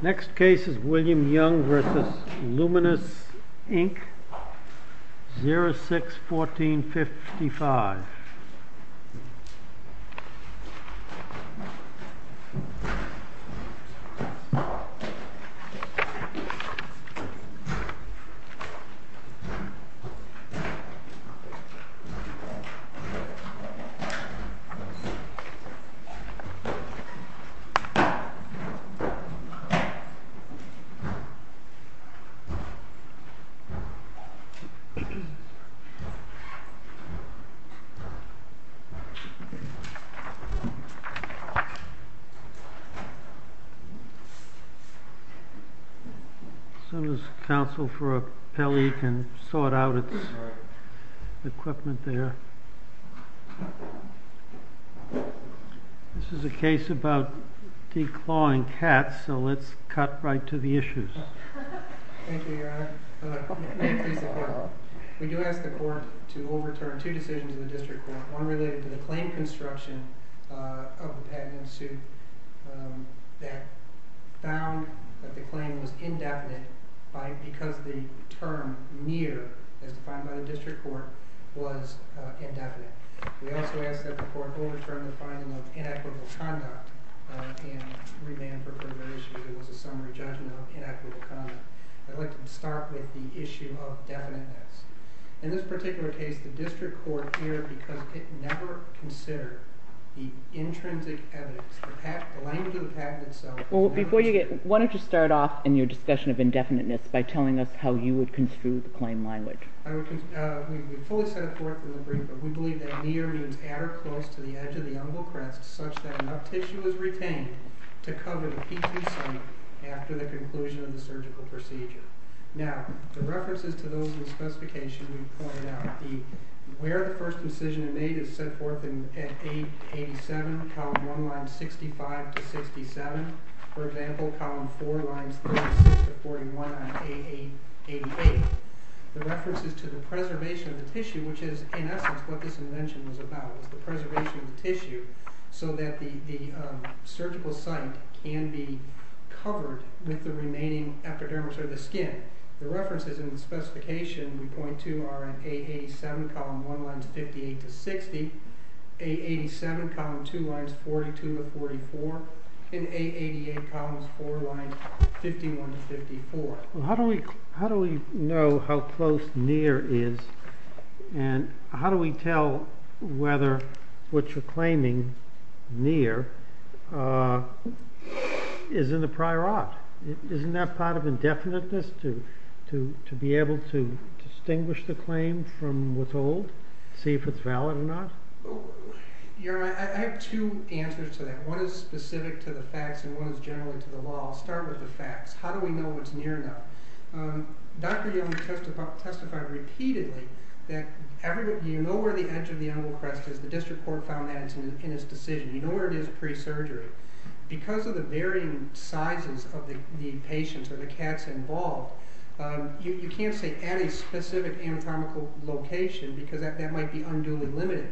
Next case is William Young v. Lumenis, Inc., 06-1455. As soon as counsel for appellee can sort out its equipment there. This is a case about declawing cats, so let's cut right to the issues. We do ask the court to overturn two decisions in the district court, one related to the claim construction of the patent in suit that found that the claim was indefinite because the term near, as defined by the district court, was indefinite. We also ask that the court overturn the finding of inequitable conduct and remand for further issues. It was a summary judgment of inequitable conduct. I'd like to start with the issue of definiteness. In this particular case, the district court here, because it never considered the intrinsic evidence, the language of the patent itself. Before you get, why don't you start off in your discussion of indefiniteness by telling us how you would construe the claim language. We believe that near means at or close to the edge of the umbilical crest, such that enough tissue is retained to cover the PCC after the conclusion of the surgical procedure. Now, the references to those in the specification we pointed out, where the first incision is made is set forth in 8-87, column 1, lines 65-67. For example, column 4, lines 36-41 on 8-88. The reference is to the preservation of the tissue, which is, in essence, what this invention was about. It was the preservation of the tissue so that the surgical site can be covered with the remaining epidermis or the skin. The references in the specification we point to are in 8-87, column 1, lines 58-60, 8-87, column 2, lines 42-44, and 8-88, columns 4, lines 51-54. How do we know how close near is, and how do we tell whether what you're claiming, near, is in the prior art? Isn't that part of indefiniteness, to be able to distinguish the claim from what's old, see if it's valid or not? I have two answers to that. One is specific to the facts, and one is generally to the law. I'll start with the facts. How do we know what's near enough? Dr. Young testified repeatedly that you know where the edge of the angle crest is. The district court found that in his decision. You know where it is pre-surgery. Because of the varying sizes of the patients or the cats involved, you can't say at a specific anatomical location because that might be unduly limited.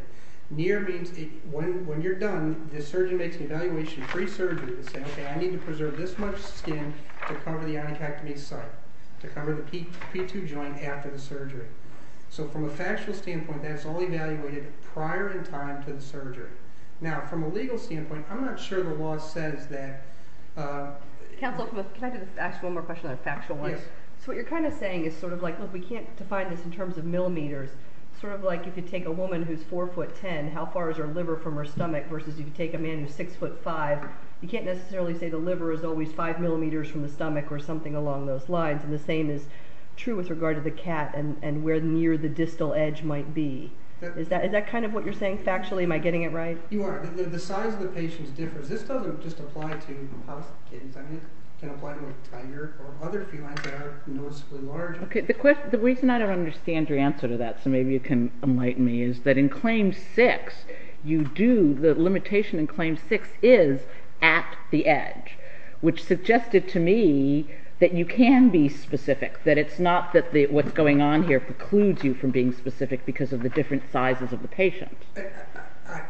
Near means when you're done, the surgeon makes an evaluation pre-surgery to say, okay, I need to preserve this much skin to cover the onychectomy site, to cover the P2 joint after the surgery. So from a factual standpoint, that's all evaluated prior in time to the surgery. Now, from a legal standpoint, I'm not sure the law says that. Counsel, can I ask one more question on a factual one? Yes. So what you're kind of saying is sort of like, look, we can't define this in terms of millimeters. Sort of like if you take a woman who's 4'10", how far is her liver from her stomach versus if you take a man who's 6'5", you can't necessarily say the liver is always 5 millimeters from the stomach or something along those lines. And the same is true with regard to the cat and where near the distal edge might be. Is that kind of what you're saying factually? Am I getting it right? You are. The size of the patient differs. This doesn't just apply to house cats. I mean, it can apply to a tiger or other felines that are noticeably larger. Okay. The reason I don't understand your answer to that, so maybe you can enlighten me, is that in Claim 6, you do, the limitation in Claim 6 is at the edge, which suggested to me that you can be specific, that it's not that what's going on here precludes you from being specific because of the different sizes of the patient.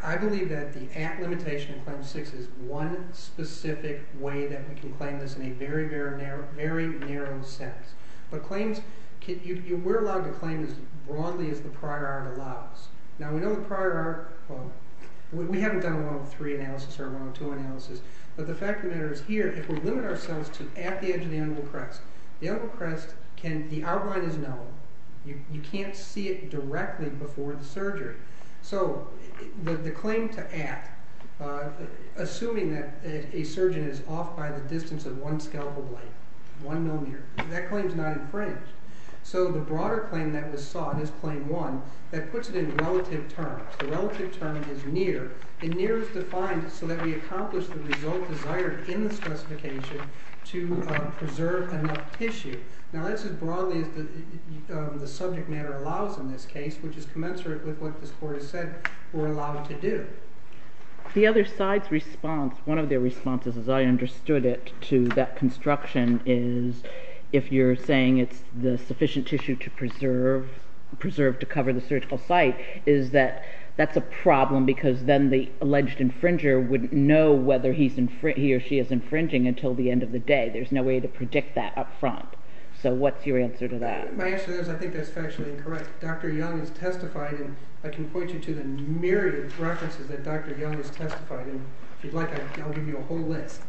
I believe that the at limitation in Claim 6 is one specific way that we can claim this in a very, very narrow sense. But claims, we're allowed to claim as broadly as the prior art allows. Now, we know the prior art, well, we haven't done a 103 analysis or a 102 analysis, but the fact of the matter is here, if we limit ourselves to at the edge of the anvil crest, the anvil crest can, the outline is known. You can't see it directly before the surgery. So the claim to at, assuming that a surgeon is off by the distance of one scalpel blade, one millimeter, that claim's not infringed. So the broader claim that was sought is Claim 1. That puts it in relative terms. The relative term is near, and near is defined so that we accomplish the result desired in the specification to preserve enough tissue. Now, that's as broadly as the subject matter allows in this case, which is commensurate with what this court has said we're allowed to do. The other side's response, one of their responses, as I understood it, to that construction, is if you're saying it's the sufficient tissue to preserve to cover the surgical site, is that that's a problem because then the alleged infringer wouldn't know whether he or she is infringing until the end of the day. There's no way to predict that up front. So what's your answer to that? My answer is I think that's factually incorrect. Dr. Young has testified, and I can point you to the myriad of references that Dr. Young has testified in. If you'd like, I'll give you a whole list.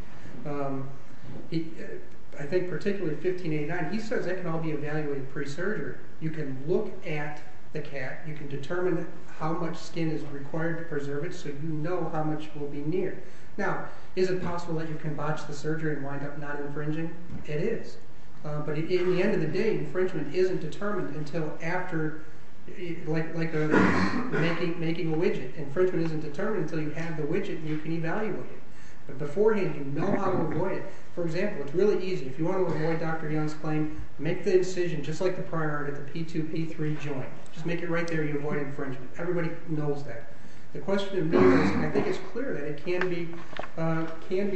I think particularly 1589, he says it can all be evaluated pre-surgery. You can look at the cat. You can determine how much skin is required to preserve it so you know how much will be near. Now, is it possible that you can botch the surgery and wind up not infringing? It is. But in the end of the day, infringement isn't determined until after making a widget. Infringement isn't determined until you have the widget and you can evaluate it. But beforehand, you know how to avoid it. For example, it's really easy. If you want to avoid Dr. Young's claim, make the incision just like the priority, the P2-P3 joint. Just make it right there. You avoid infringement. Everybody knows that. The question is, I think it's clear that it can be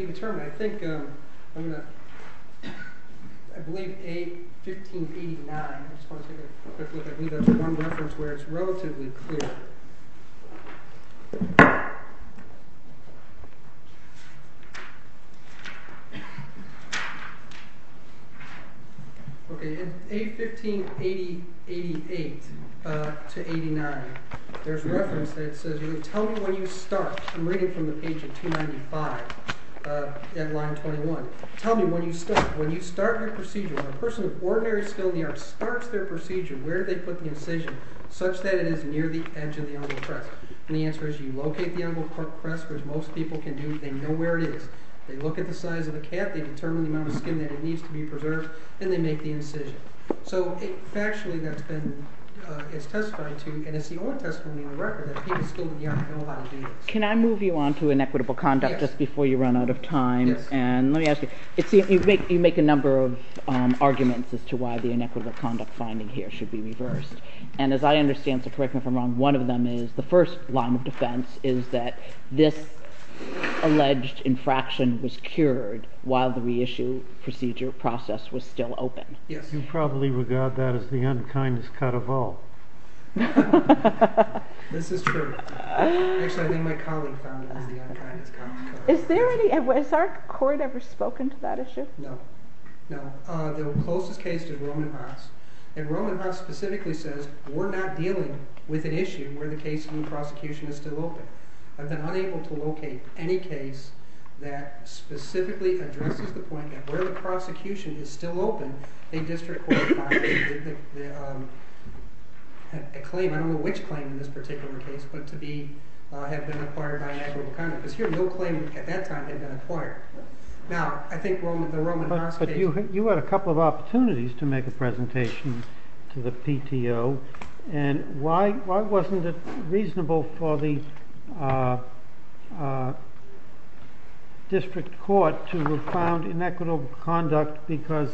determined. I think I'm going to – I believe A1589. I just want to take a quick look. I believe that's one reference where it's relatively clear. Okay, in A1588 to 89, there's a reference that says, really, tell me when you start. I'm reading from the page of 295 at line 21. Tell me when you start. When you start your procedure, when a person of ordinary skill in the arts starts their procedure, where do they put the incision such that it is near the edge of the umbilical crest? And the answer is you locate the umbilical crest, which most people can do. They know where it is. They look at the size of the cap. They determine the amount of skin that needs to be preserved, and they make the incision. So, factually, that's been – it's testified to, and it's the only testimony in the record that people skilled in the arts know how to do this. Can I move you on to inequitable conduct just before you run out of time? Yes. And let me ask you, you make a number of arguments as to why the inequitable conduct finding here should be reversed. And as I understand, so correct me if I'm wrong, one of them is the first line of defense is that this alleged infraction was cured while the reissue procedure process was still open. Yes. You probably regard that as the unkindest cut of all. This is true. Actually, I think my colleague found it as the unkindest cut. Is there any – has our court ever spoken to that issue? No. No. The closest case is Roman Haas. And Roman Haas specifically says, we're not dealing with an issue where the case in the prosecution is still open. I've been unable to locate any case that specifically addresses the point that where the prosecution is still open, a district court finding a claim, I don't know which claim in this particular case, but to be – have been acquired by inequitable conduct. Because here, no claim at that time had been acquired. Now, I think the Roman Haas case – And why wasn't it reasonable for the district court to have found inequitable conduct because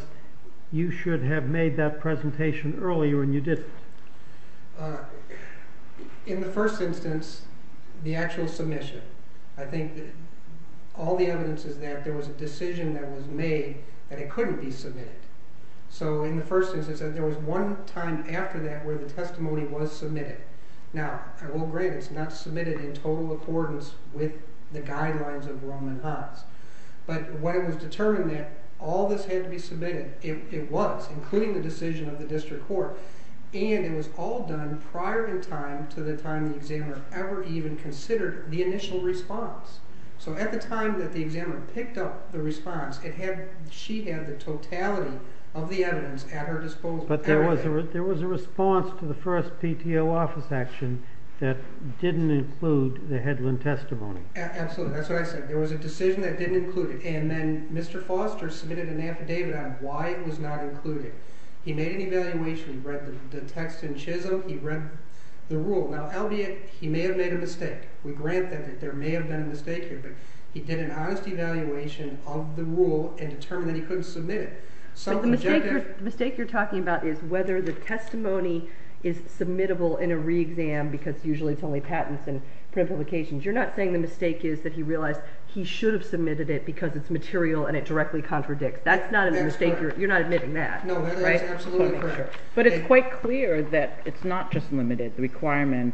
you should have made that presentation earlier and you didn't? In the first instance, the actual submission. I think all the evidence is that there was a decision that was made that it couldn't be submitted. So in the first instance, there was one time after that where the testimony was submitted. Now, I will grant it's not submitted in total accordance with the guidelines of Roman Haas. But when it was determined that all this had to be submitted, it was, including the decision of the district court. And it was all done prior in time to the time the examiner ever even considered the initial response. So at the time that the examiner picked up the response, she had the totality of the evidence at her disposal. But there was a response to the first PTO office action that didn't include the Hedlund testimony. Absolutely. That's what I said. There was a decision that didn't include it. And then Mr. Foster submitted an affidavit on why it was not included. He made an evaluation. He read the text in Chisholm. He read the rule. Now, albeit he may have made a mistake. We grant that there may have been a mistake here. But he did an honest evaluation of the rule and determined that he couldn't submit it. But the mistake you're talking about is whether the testimony is submittable in a re-exam because usually it's only patents and print publications. You're not saying the mistake is that he realized he should have submitted it because it's material and it directly contradicts. That's not a mistake. You're not admitting that. No, that is absolutely correct. But it's quite clear that it's not just limited. The requirement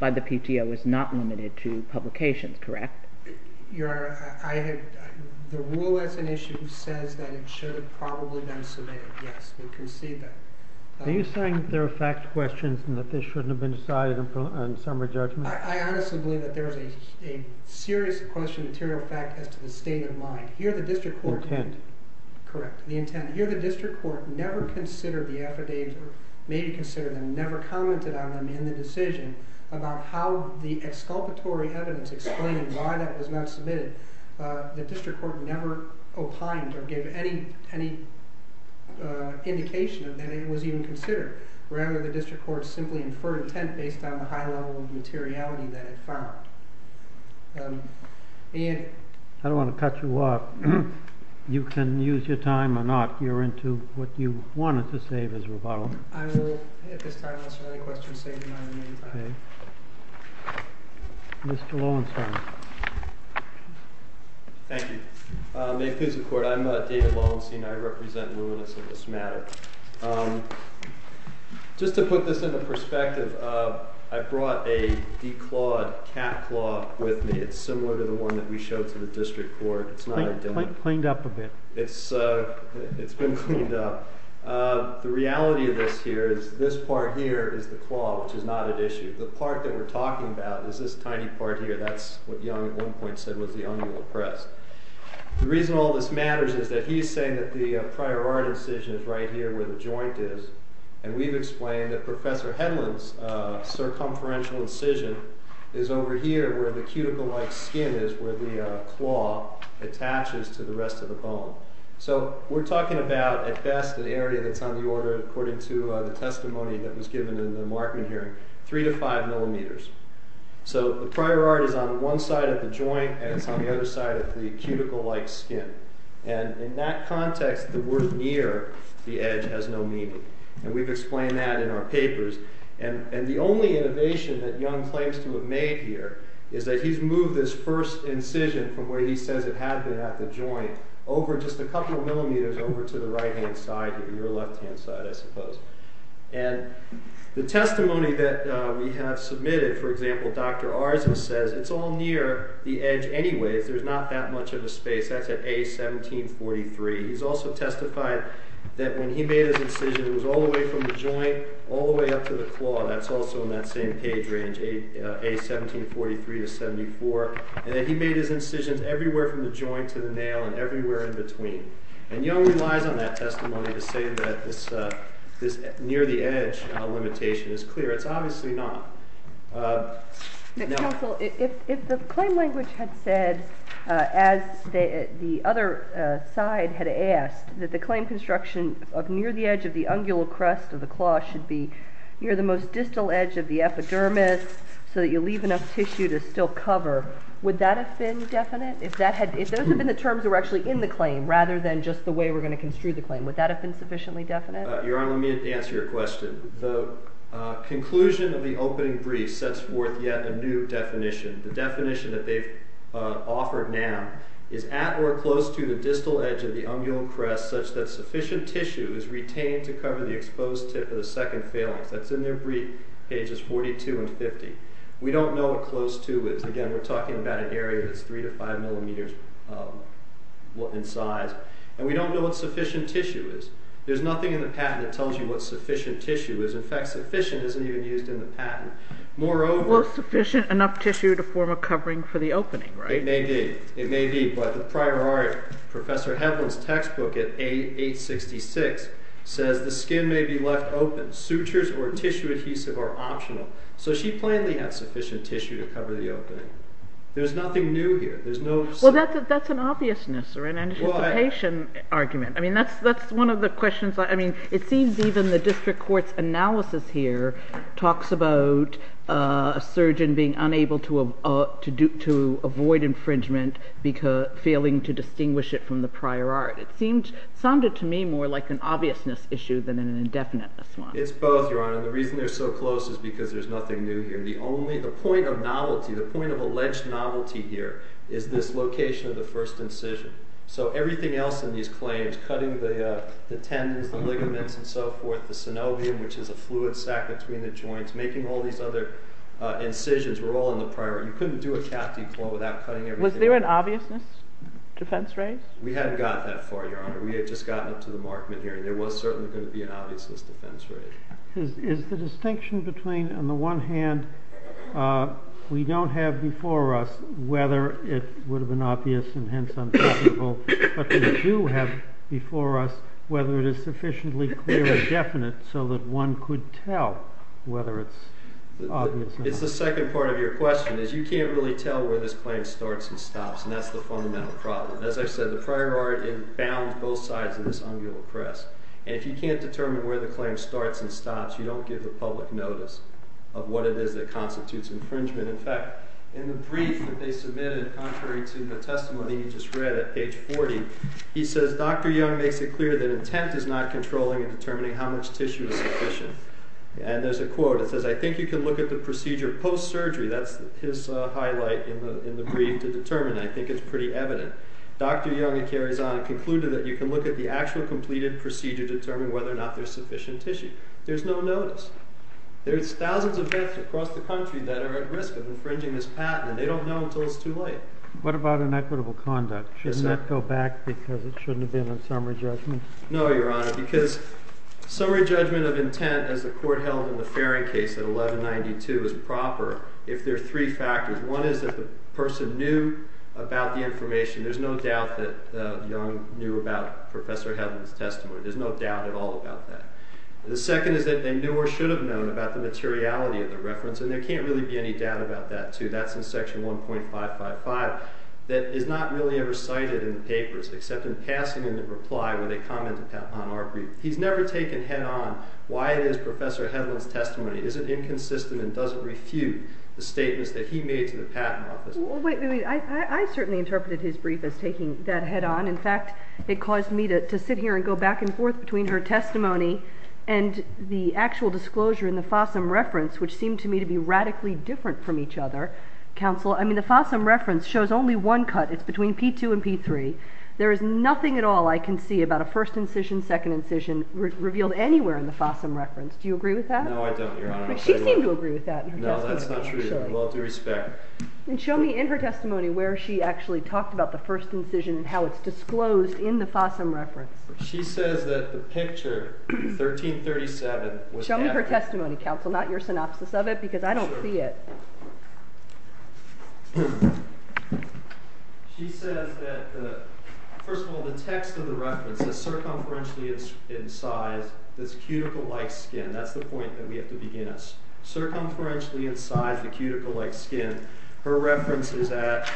by the PTO is not limited to publications, correct? The rule as an issue says that it should have probably been submitted. Yes, we concede that. Are you saying that there are fact questions and that this shouldn't have been decided on summary judgment? I honestly believe that there is a serious question of material fact as to the state of mind. Here the district court never considered the affidavit or maybe considered them, never commented on them in the decision about how the exculpatory evidence explaining why that was not submitted. The district court never opined or gave any indication that it was even considered. Rather, the district court simply inferred intent based on the high level of materiality that it found. Ian? I don't want to cut you off. You can use your time or not. You're into what you wanted to say as a rebuttal. I will at this time answer any questions that you might have in the meantime. Mr. Lowenstein. Thank you. May it please the court, I'm David Lowenstein. I represent luminous in this matter. Just to put this into perspective, I brought a declawed cat claw with me. It's similar to the one that we showed to the district court. It's not identical. Cleaned up a bit. It's been cleaned up. The reality of this here is this part here is the claw, which is not at issue. The part that we're talking about is this tiny part here. That's what Young at one point said was the umbilical crest. The reason all this matters is that he's saying that the prior art incision is right here where the joint is. And we've explained that Professor Hedlund's circumferential incision is over here where the cuticle-like skin is where the claw attaches to the rest of the bone. So we're talking about, at best, the area that's on the order according to the testimony that was given in the Markman hearing, 3 to 5 millimeters. So the prior art is on one side of the joint, and it's on the other side of the cuticle-like skin. And in that context, the word near the edge has no meaning. And we've explained that in our papers. And the only innovation that Young claims to have made here is that he's moved this first incision from where he says it had been at the joint over just a couple of millimeters over to the right-hand side or your left-hand side, I suppose. And the testimony that we have submitted, for example, Dr. Arzen says it's all near the edge anyways. There's not that much of a space. That's at A1743. He's also testified that when he made his incision, it was all the way from the joint all the way up to the claw. That's also in that same page range, A1743 to 74. And that he made his incisions everywhere from the joint to the nail and everywhere in between. And Young relies on that testimony to say that this near-the-edge limitation is clear. It's obviously not. Counsel, if the claim language had said, as the other side had asked, that the claim construction of near the edge of the ungular crust of the claw should be near the most distal edge of the epidermis so that you leave enough tissue to still cover, would that have been definite? If that had been the terms that were actually in the claim rather than just the way we're going to construe the claim, would that have been sufficiently definite? Your Honor, let me answer your question. The conclusion of the opening brief sets forth yet a new definition. The definition that they've offered now is at or close to the distal edge of the ungular crust such that sufficient tissue is retained to cover the exposed tip of the second phalanx. That's in their brief, pages 42 and 50. We don't know what close to is. Again, we're talking about an area that's three to five millimeters in size. And we don't know what sufficient tissue is. There's nothing in the patent that tells you what sufficient tissue is. In fact, sufficient isn't even used in the patent. Moreover— Well, sufficient enough tissue to form a covering for the opening, right? It may be. It may be. But the prior art, Professor Heflin's textbook at A866, says the skin may be left open. Sutures or tissue adhesive are optional. So she plainly had sufficient tissue to cover the opening. There's nothing new here. There's no— Well, that's an obviousness or an anticipation argument. I mean, that's one of the questions— I mean, it seems even the district court's analysis here talks about a surgeon being unable to avoid infringement, failing to distinguish it from the prior art. It seemed—sounded to me more like an obviousness issue than an indefiniteness one. It's both, Your Honor. The reason they're so close is because there's nothing new here. The only—the point of novelty, the point of alleged novelty here is this location of the first incision. So everything else in these claims, cutting the tendons, the ligaments, and so forth, the synovium, which is a fluid sac between the joints, making all these other incisions, were all in the prior art. You couldn't do a cat declaw without cutting everything. Was there an obviousness defense raised? We hadn't got that far, Your Honor. We had just gotten up to the Markman hearing. There was certainly going to be an obviousness defense raised. Is the distinction between, on the one hand, we don't have before us whether it would have been obvious and hence untouchable, but we do have before us whether it is sufficiently clear and definite so that one could tell whether it's obvious or not? It's the second part of your question, is you can't really tell where this claim starts and stops, and that's the fundamental problem. As I've said, the prior art, it bounds both sides of this umbilical crest. And if you can't determine where the claim starts and stops, you don't give the public notice of what it is that constitutes infringement. In fact, in the brief that they submitted, contrary to the testimony you just read at page 40, he says, Dr. Young makes it clear that intent is not controlling and determining how much tissue is sufficient. And there's a quote. It says, I think you can look at the procedure post-surgery. That's his highlight in the brief to determine that. I think it's pretty evident. Dr. Young, it carries on, concluded that you can look at the actual completed procedure to determine whether or not there's sufficient tissue. There's no notice. There's thousands of vets across the country that are at risk of infringing this patent, and they don't know until it's too late. What about inequitable conduct? Shouldn't that go back because it shouldn't have been a summary judgment? No, Your Honor, because summary judgment of intent, as the court held in the Farring case at 1192, is proper if there are three factors. One is that the person knew about the information. There's no doubt that Young knew about Professor Hedlund's testimony. There's no doubt at all about that. The second is that they knew or should have known about the materiality of the reference. And there can't really be any doubt about that, too. That's in section 1.555. That is not really ever cited in the papers except in passing in the reply when they commented on our brief. He's never taken head-on why it is Professor Hedlund's testimony isn't inconsistent and doesn't refute the statements that he made to the patent office. Wait a minute. I certainly interpreted his brief as taking that head-on. In fact, it caused me to sit here and go back and forth between her testimony and the actual disclosure in the Fossum reference, which seemed to me to be radically different from each other. Counsel, I mean, the Fossum reference shows only one cut. It's between P2 and P3. There is nothing at all I can see about a first incision, second incision revealed anywhere in the Fossum reference. Do you agree with that? No, I don't, Your Honor. She seemed to agree with that in her testimony. No, that's not true. With all due respect. And show me in her testimony where she actually talked about the first incision and how it's disclosed in the Fossum reference. She says that the picture, 1337, was accurate. Show me her testimony, Counsel, not your synopsis of it because I don't see it. She says that, first of all, the text of the reference is circumferentially incised. It's cuticle-like skin. That's the point that we have to begin us. Circumferentially incised, the cuticle-like skin. Her reference is at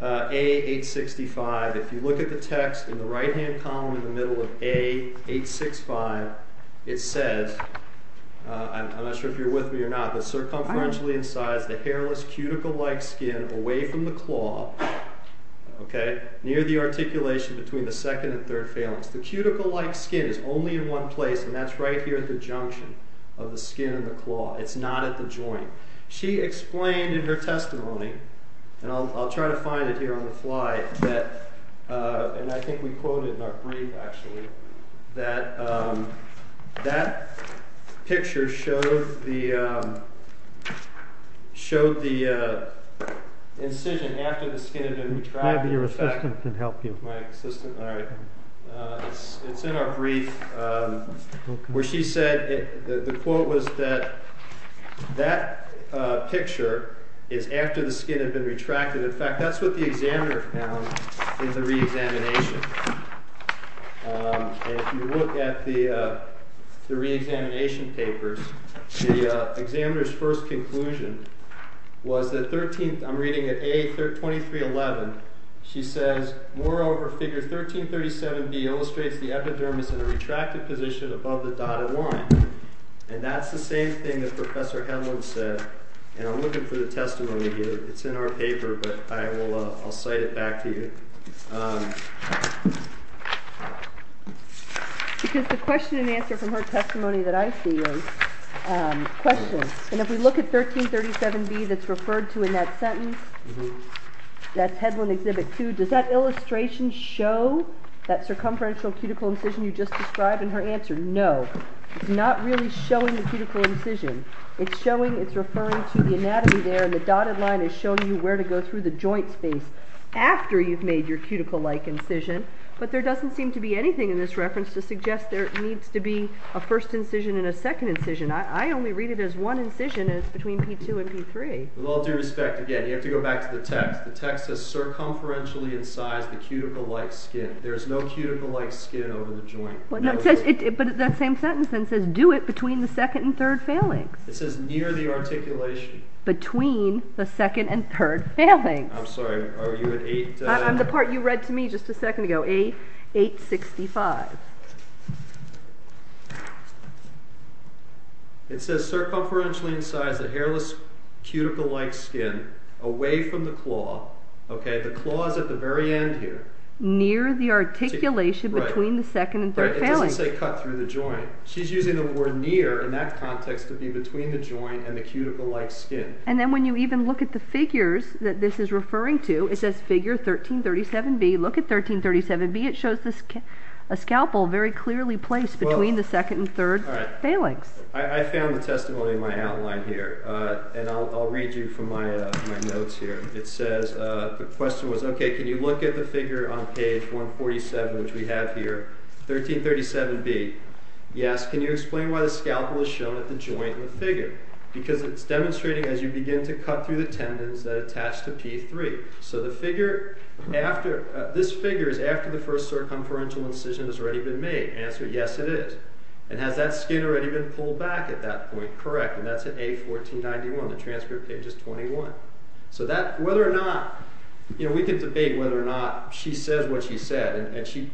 A865. If you look at the text in the right-hand column in the middle of A865, it says, I'm not sure if you're with me or not, but circumferentially incised, the hairless, cuticle-like skin away from the claw, okay, near the articulation between the second and third phalanx. The cuticle-like skin is only in one place, and that's right here at the junction of the skin and the claw. It's not at the joint. She explained in her testimony, and I'll try to find it here on the fly, that, and I think we quoted in our brief, actually, that that picture showed the incision after the skin had been retracted. Maybe your assistant can help you. My assistant, all right. It's in our brief where she said, the quote was that that picture is after the skin had been retracted. In fact, that's what the examiner found in the reexamination. If you look at the reexamination papers, the examiner's first conclusion was that 13th, I'm reading at A2311, she says, moreover, figure 1337B illustrates the epidermis in a retracted position above the dotted line. And that's the same thing that Professor Hedlund said, and I'm looking for the testimony here. It's in our paper, but I'll cite it back to you. Because the question and answer from her testimony that I see is questions. And if we look at 1337B that's referred to in that sentence, that's Hedlund Exhibit 2, does that illustration show that circumferential cuticle incision you just described? And her answer, no. It's not really showing the cuticle incision. It's showing, it's referring to the anatomy there, and the dotted line is showing you where to go through the joint space after you've made your cuticle-like incision. But there doesn't seem to be anything in this reference to suggest there needs to be a first incision and a second incision. I only read it as one incision, and it's between P2 and P3. With all due respect, again, you have to go back to the text. The text says, circumferentially incise the cuticle-like skin. There is no cuticle-like skin over the joint. But that same sentence then says, do it between the second and third phalanx. It says near the articulation. Between the second and third phalanx. I'm sorry, are you at 8? I'm the part you read to me just a second ago, 865. It says, circumferentially incise the hairless cuticle-like skin away from the claw. Okay, the claw is at the very end here. Near the articulation between the second and third phalanx. It doesn't say cut through the joint. She's using the word near in that context to be between the joint and the cuticle-like skin. And then when you even look at the figures that this is referring to, it says figure 1337B. Look at 1337B. It shows a scalpel very clearly placed between the second and third phalanx. I found the testimony in my outline here, and I'll read you from my notes here. It says, the question was, okay, can you look at the figure on page 147, which we have here, 1337B. Yes, can you explain why the scalpel is shown at the joint in the figure? Because it's demonstrating as you begin to cut through the tendons that attach to P3. So this figure is after the first circumferential incision has already been made. Answer, yes, it is. And has that skin already been pulled back at that point? Correct, and that's at A1491. The transcript page is 21. So whether or not, you know, we can debate whether or not she says what she said, and she,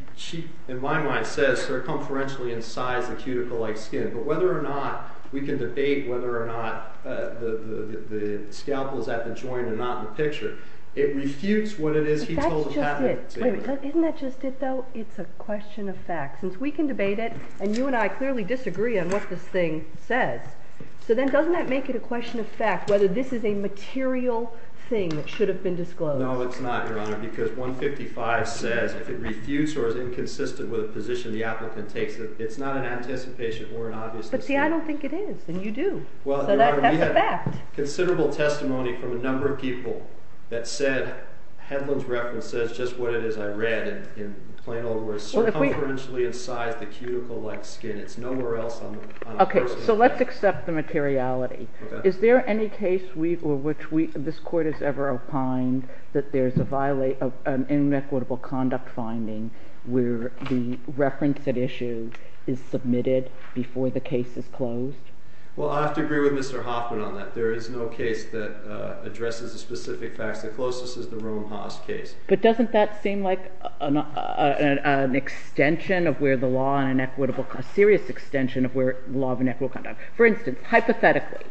in my mind, says circumferentially incise the cuticle-like skin. But whether or not we can debate whether or not the scalpel is at the joint and not in the picture, it refutes what it is he told us happened. But that's just it. Wait a minute. Isn't that just it, though? It's a question of fact. Since we can debate it, and you and I clearly disagree on what this thing says, so then doesn't that make it a question of fact whether this is a material thing that should have been disclosed? No, it's not, Your Honor, because 155 says if it refutes or is inconsistent with the position the applicant takes, it's not an anticipation or an obvious disclaimer. But see, I don't think it is, and you do. So that's a fact. Well, Your Honor, we have considerable testimony from a number of people that said Hedlund's reference says just what it is I read, in plain old words, circumferentially incised the cuticle-like skin. It's nowhere else on the first page. Okay, so let's accept the materiality. Is there any case which this Court has ever opined that there's an inequitable conduct finding where the reference at issue is submitted before the case is closed? Well, I have to agree with Mr. Hoffman on that. There is no case that addresses the specific facts. The closest is the Rome-Haas case. But doesn't that seem like an extension of where the law and inequitable, a serious extension of where the law of inequitable conduct. For instance, hypothetically,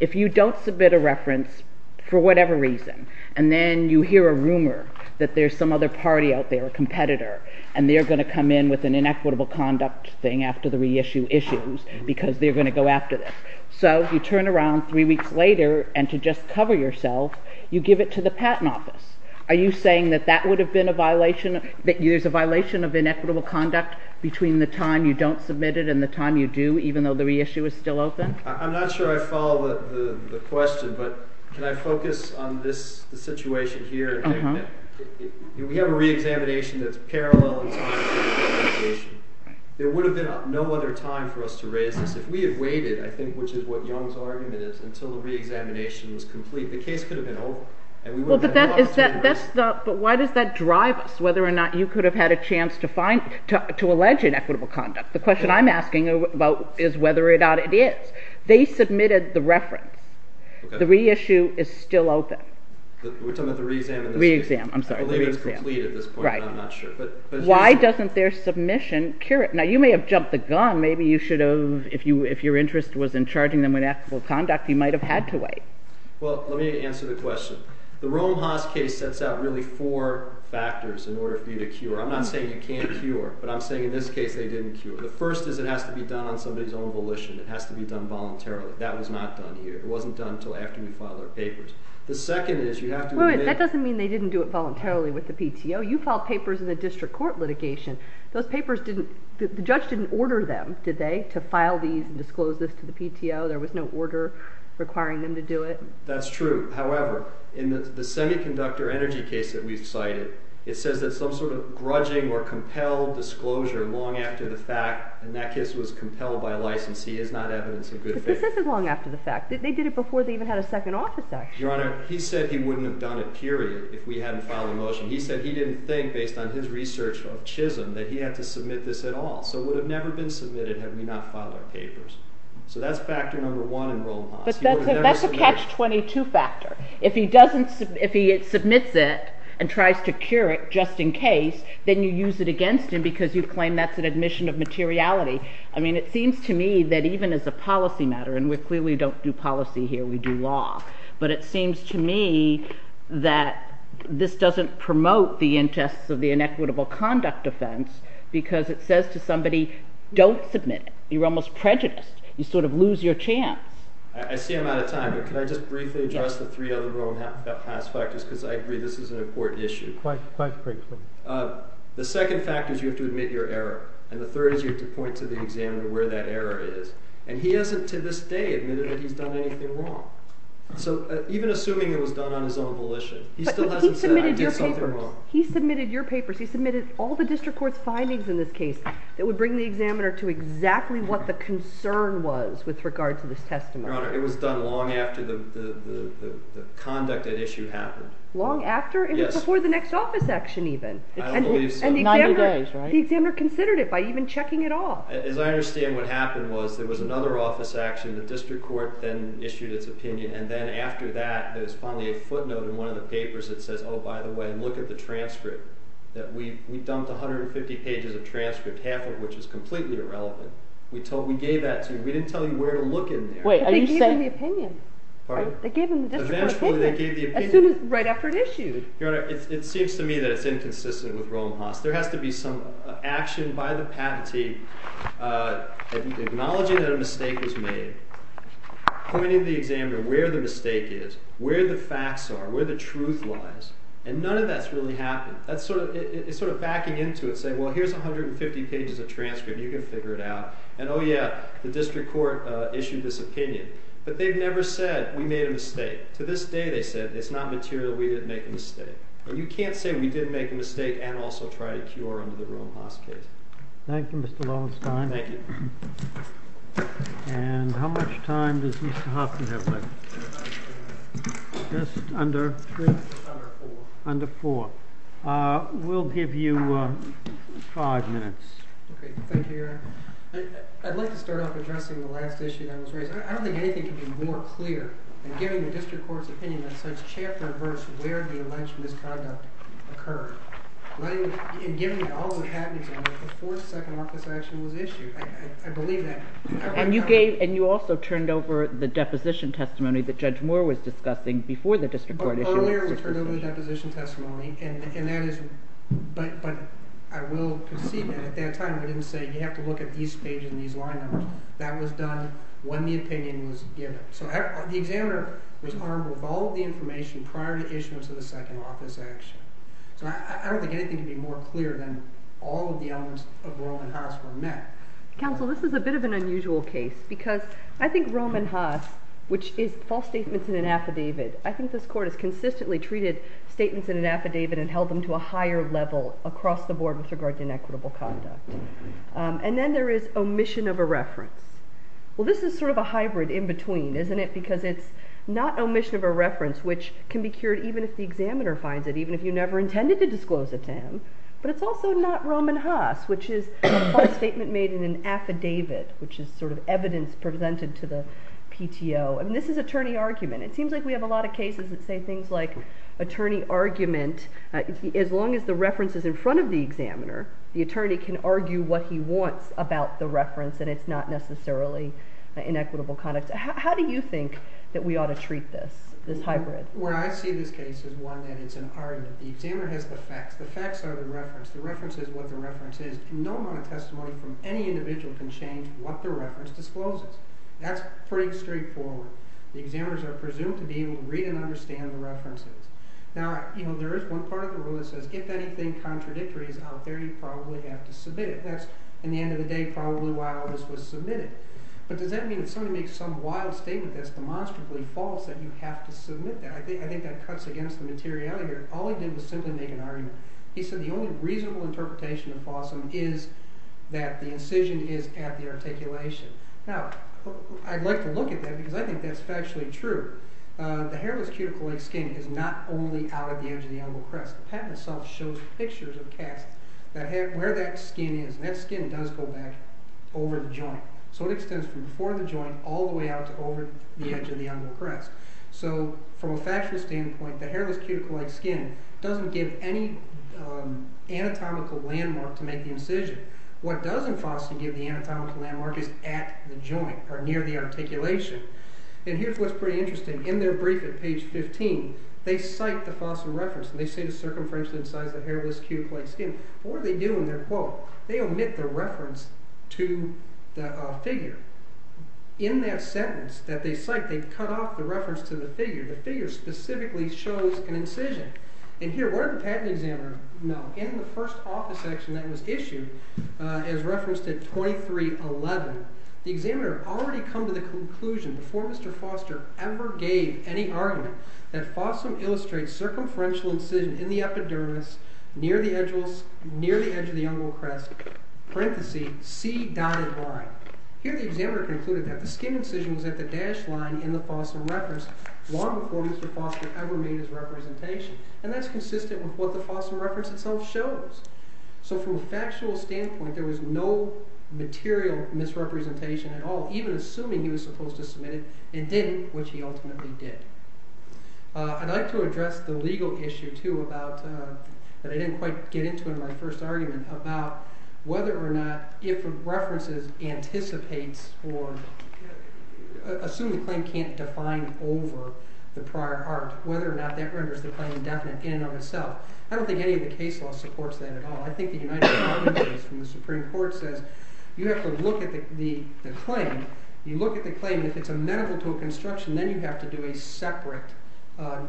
if you don't submit a reference for whatever reason, and then you hear a rumor that there's some other party out there, a competitor, and they're going to come in with an inequitable conduct thing after the reissue issues because they're going to go after this. So you turn around three weeks later, and to just cover yourself, you give it to the Patent Office. Are you saying that that would have been a violation, that there's a violation of inequitable conduct between the time you don't submit it and the time you do, even though the reissue is still open? I'm not sure I follow the question, but can I focus on the situation here? We have a reexamination that's parallel in time to the renegotiation. There would have been no other time for us to raise this. If we had waited, I think, which is what Jung's argument is, until the reexamination was complete, the case could have been over. But why does that drive us, whether or not you could have had a chance to find, to allege inequitable conduct? The question I'm asking is whether or not it is. They submitted the reference. The reissue is still open. We're talking about the reexam? Reexam, I'm sorry. I believe it's complete at this point, but I'm not sure. Why doesn't their submission cure it? Now, you may have jumped the gun. Maybe if your interest was in charging them with inequitable conduct, you might have had to wait. Well, let me answer the question. The Rome Haas case sets out really four factors in order for you to cure. I'm not saying you can't cure, but I'm saying, in this case, they didn't cure. The first is it has to be done on somebody's own volition. It has to be done voluntarily. That was not done here. It wasn't done until after we filed our papers. The second is you have to evade. That doesn't mean they didn't do it voluntarily with the PTO. You filed papers in the district court litigation. The judge didn't order them, did they, to file these and disclose this to the PTO? There was no order requiring them to do it? That's true. However, in the semiconductor energy case that we've cited, it says that some sort of grudging or compelled disclosure long after the fact, and that case was compelled by licensee, is not evidence of good faith. But this is long after the fact. They did it before they even had a second office action. Your Honor, he said he wouldn't have done it, period, if we hadn't filed a motion. He said he didn't think, based on his research of Chisholm, that he had to submit this at all. So it would have never been submitted had we not filed our papers. So that's factor number one in Rome Haas. He would have never submitted it. But that's a catch-22 factor. If he submits it and tries to cure it just in case, then you use it against him because you claim that's an admission of materiality. I mean, it seems to me that even as a policy matter, and we clearly don't do policy here, we do law, but it seems to me that this doesn't promote the interests of the inequitable conduct offense because it says to somebody, don't submit it. You're almost prejudiced. You sort of lose your chance. I see I'm out of time, but can I just briefly address the three other Rome Haas factors because I agree this is an important issue. Quite frankly. The second factor is you have to admit your error, and the third is you have to point to the examiner where that error is. And he hasn't to this day admitted that he's done anything wrong. So even assuming it was done on his own volition, he still hasn't said I did something wrong. But he submitted your papers. He submitted all the district court's findings in this case that would bring the examiner to exactly what the concern was with regard to this testimony. Your Honor, it was done long after the conduct at issue happened. Long after? Yes. It was before the next office action even. I don't believe so. 90 days, right? And the examiner considered it by even checking it off. As I understand what happened was there was another office action. The district court then issued its opinion, and then after that there was finally a footnote in one of the papers that says, oh, by the way, look at the transcript. We dumped 150 pages of transcript, half of which is completely irrelevant. We gave that to you. We didn't tell you where to look in there. But they gave him the opinion. Pardon? They gave him the district court opinion right after it issued. Your Honor, it seems to me that it's inconsistent with Rome-Haas. There has to be some action by the patentee acknowledging that a mistake was made, pointing the examiner where the mistake is, where the facts are, where the truth lies, and none of that's really happened. It's sort of backing into it saying, well, here's 150 pages of transcript. You can figure it out. And, oh, yeah, the district court issued this opinion. But they've never said we made a mistake. To this day they said it's not material. We didn't make a mistake. And you can't say we didn't make a mistake and also try to cure under the Rome-Haas case. Thank you, Mr. Lowenstein. Thank you. And how much time does Mr. Hoffman have left? Just under three? Under four. Under four. We'll give you five minutes. Okay. Thank you, Your Honor. I'd like to start off addressing the last issue that was raised. I don't think anything could be more clear than giving the district court's opinion that says chapter and verse where the alleged misconduct occurred. In giving it all to the patentee, the fourth second office action was issued. I believe that. And you also turned over the deposition testimony that Judge Moore was discussing before the district court issued it. Earlier we turned over the deposition testimony, but I will concede that at that time we didn't say you have to look at these pages and these line numbers. That was done when the opinion was given. So the examiner was honorable with all of the information prior to issuance of the second office action. So I don't think anything could be more clear than all of the elements of Rome-Haas were met. Counsel, this is a bit of an unusual case because I think Rome-Haas, which is false statements in an affidavit, I think this court has consistently treated statements in an affidavit and held them to a higher level across the board with regard to inequitable conduct. And then there is omission of a reference. Well, this is sort of a hybrid in between, isn't it? Because it's not omission of a reference which can be cured even if the examiner finds it, even if you never intended to disclose it to him. But it's also not Rome-Haas, which is a false statement made in an affidavit, which is sort of evidence presented to the PTO. And this is attorney argument. It seems like we have a lot of cases that say things like attorney argument. As long as the reference is in front of the examiner, the attorney can argue what he wants about the reference and it's not necessarily inequitable conduct. How do you think that we ought to treat this, this hybrid? Where I see this case is one that it's an argument. The examiner has the facts. The facts are the reference. The reference is what the reference is. No amount of testimony from any individual can change what the reference discloses. That's pretty straightforward. The examiners are presumed to be able to read and understand the references. Now, you know, there is one part of the rule that says if anything contradictory is out there, you probably have to submit it. That's, in the end of the day, probably why all this was submitted. But does that mean if somebody makes some wild statement that's demonstrably false that you have to submit that? I think that cuts against the materiality here. All he did was simply make an argument. He said the only reasonable interpretation of Fossum is that the incision is at the articulation. Now, I'd like to look at that because I think that's factually true. The hairless cuticle-like skin is not only out at the edge of the umbilical crest. The patent itself shows pictures of casts where that skin is. And that skin does go back over the joint. So it extends from before the joint all the way out to over the edge of the umbilical crest. So from a factual standpoint, the hairless cuticle-like skin doesn't give any anatomical landmark to make the incision. What doesn't Fossum give the anatomical landmark is at the joint or near the articulation. And here's what's pretty interesting. In their brief at page 15, they cite the Fossum reference. They say the circumference incised the hairless cuticle-like skin. What do they do in their quote? They omit the reference to the figure. In that sentence that they cite, they've cut off the reference to the figure. The figure specifically shows an incision. And here, where did the patent examiner know? In the first office section that was issued, as referenced at 2311, the examiner had already come to the conclusion before Mr. Foster ever gave any argument that Fossum illustrates circumferential incision in the epidermis near the edge of the umbilical crest, parenthesis, C dotted line. Here the examiner concluded that the skin incision was at the dashed line in the Fossum reference long before Mr. Foster ever made his representation. And that's consistent with what the Fossum reference itself shows. So from a factual standpoint, there was no material misrepresentation at all, even assuming he was supposed to submit it and didn't, which he ultimately did. I'd like to address the legal issue too that I didn't quite get into in my first argument about whether or not if a reference anticipates or assumes a claim can't define over the prior art, whether or not that renders the claim indefinite in and of itself. I don't think any of the case law supports that at all. I think the United States Supreme Court says you have to look at the claim. You look at the claim, and if it's amenable to a construction, then you have to do a separate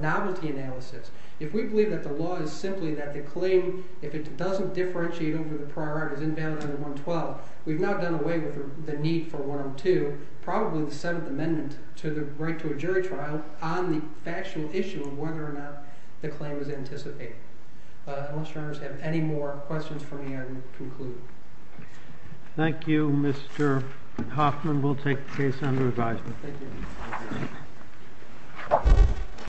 novelty analysis. If we believe that the law is simply that the claim, if it doesn't differentiate over the prior art, is invalid under 112, we've now done away with the need for 102, probably the Seventh Amendment to the right to a jury trial, on the factual issue of whether or not the claim is anticipated. I don't know if you have any more questions for me, I will conclude. Thank you, Mr. Hoffman. We'll take the case under advisement. Thank you.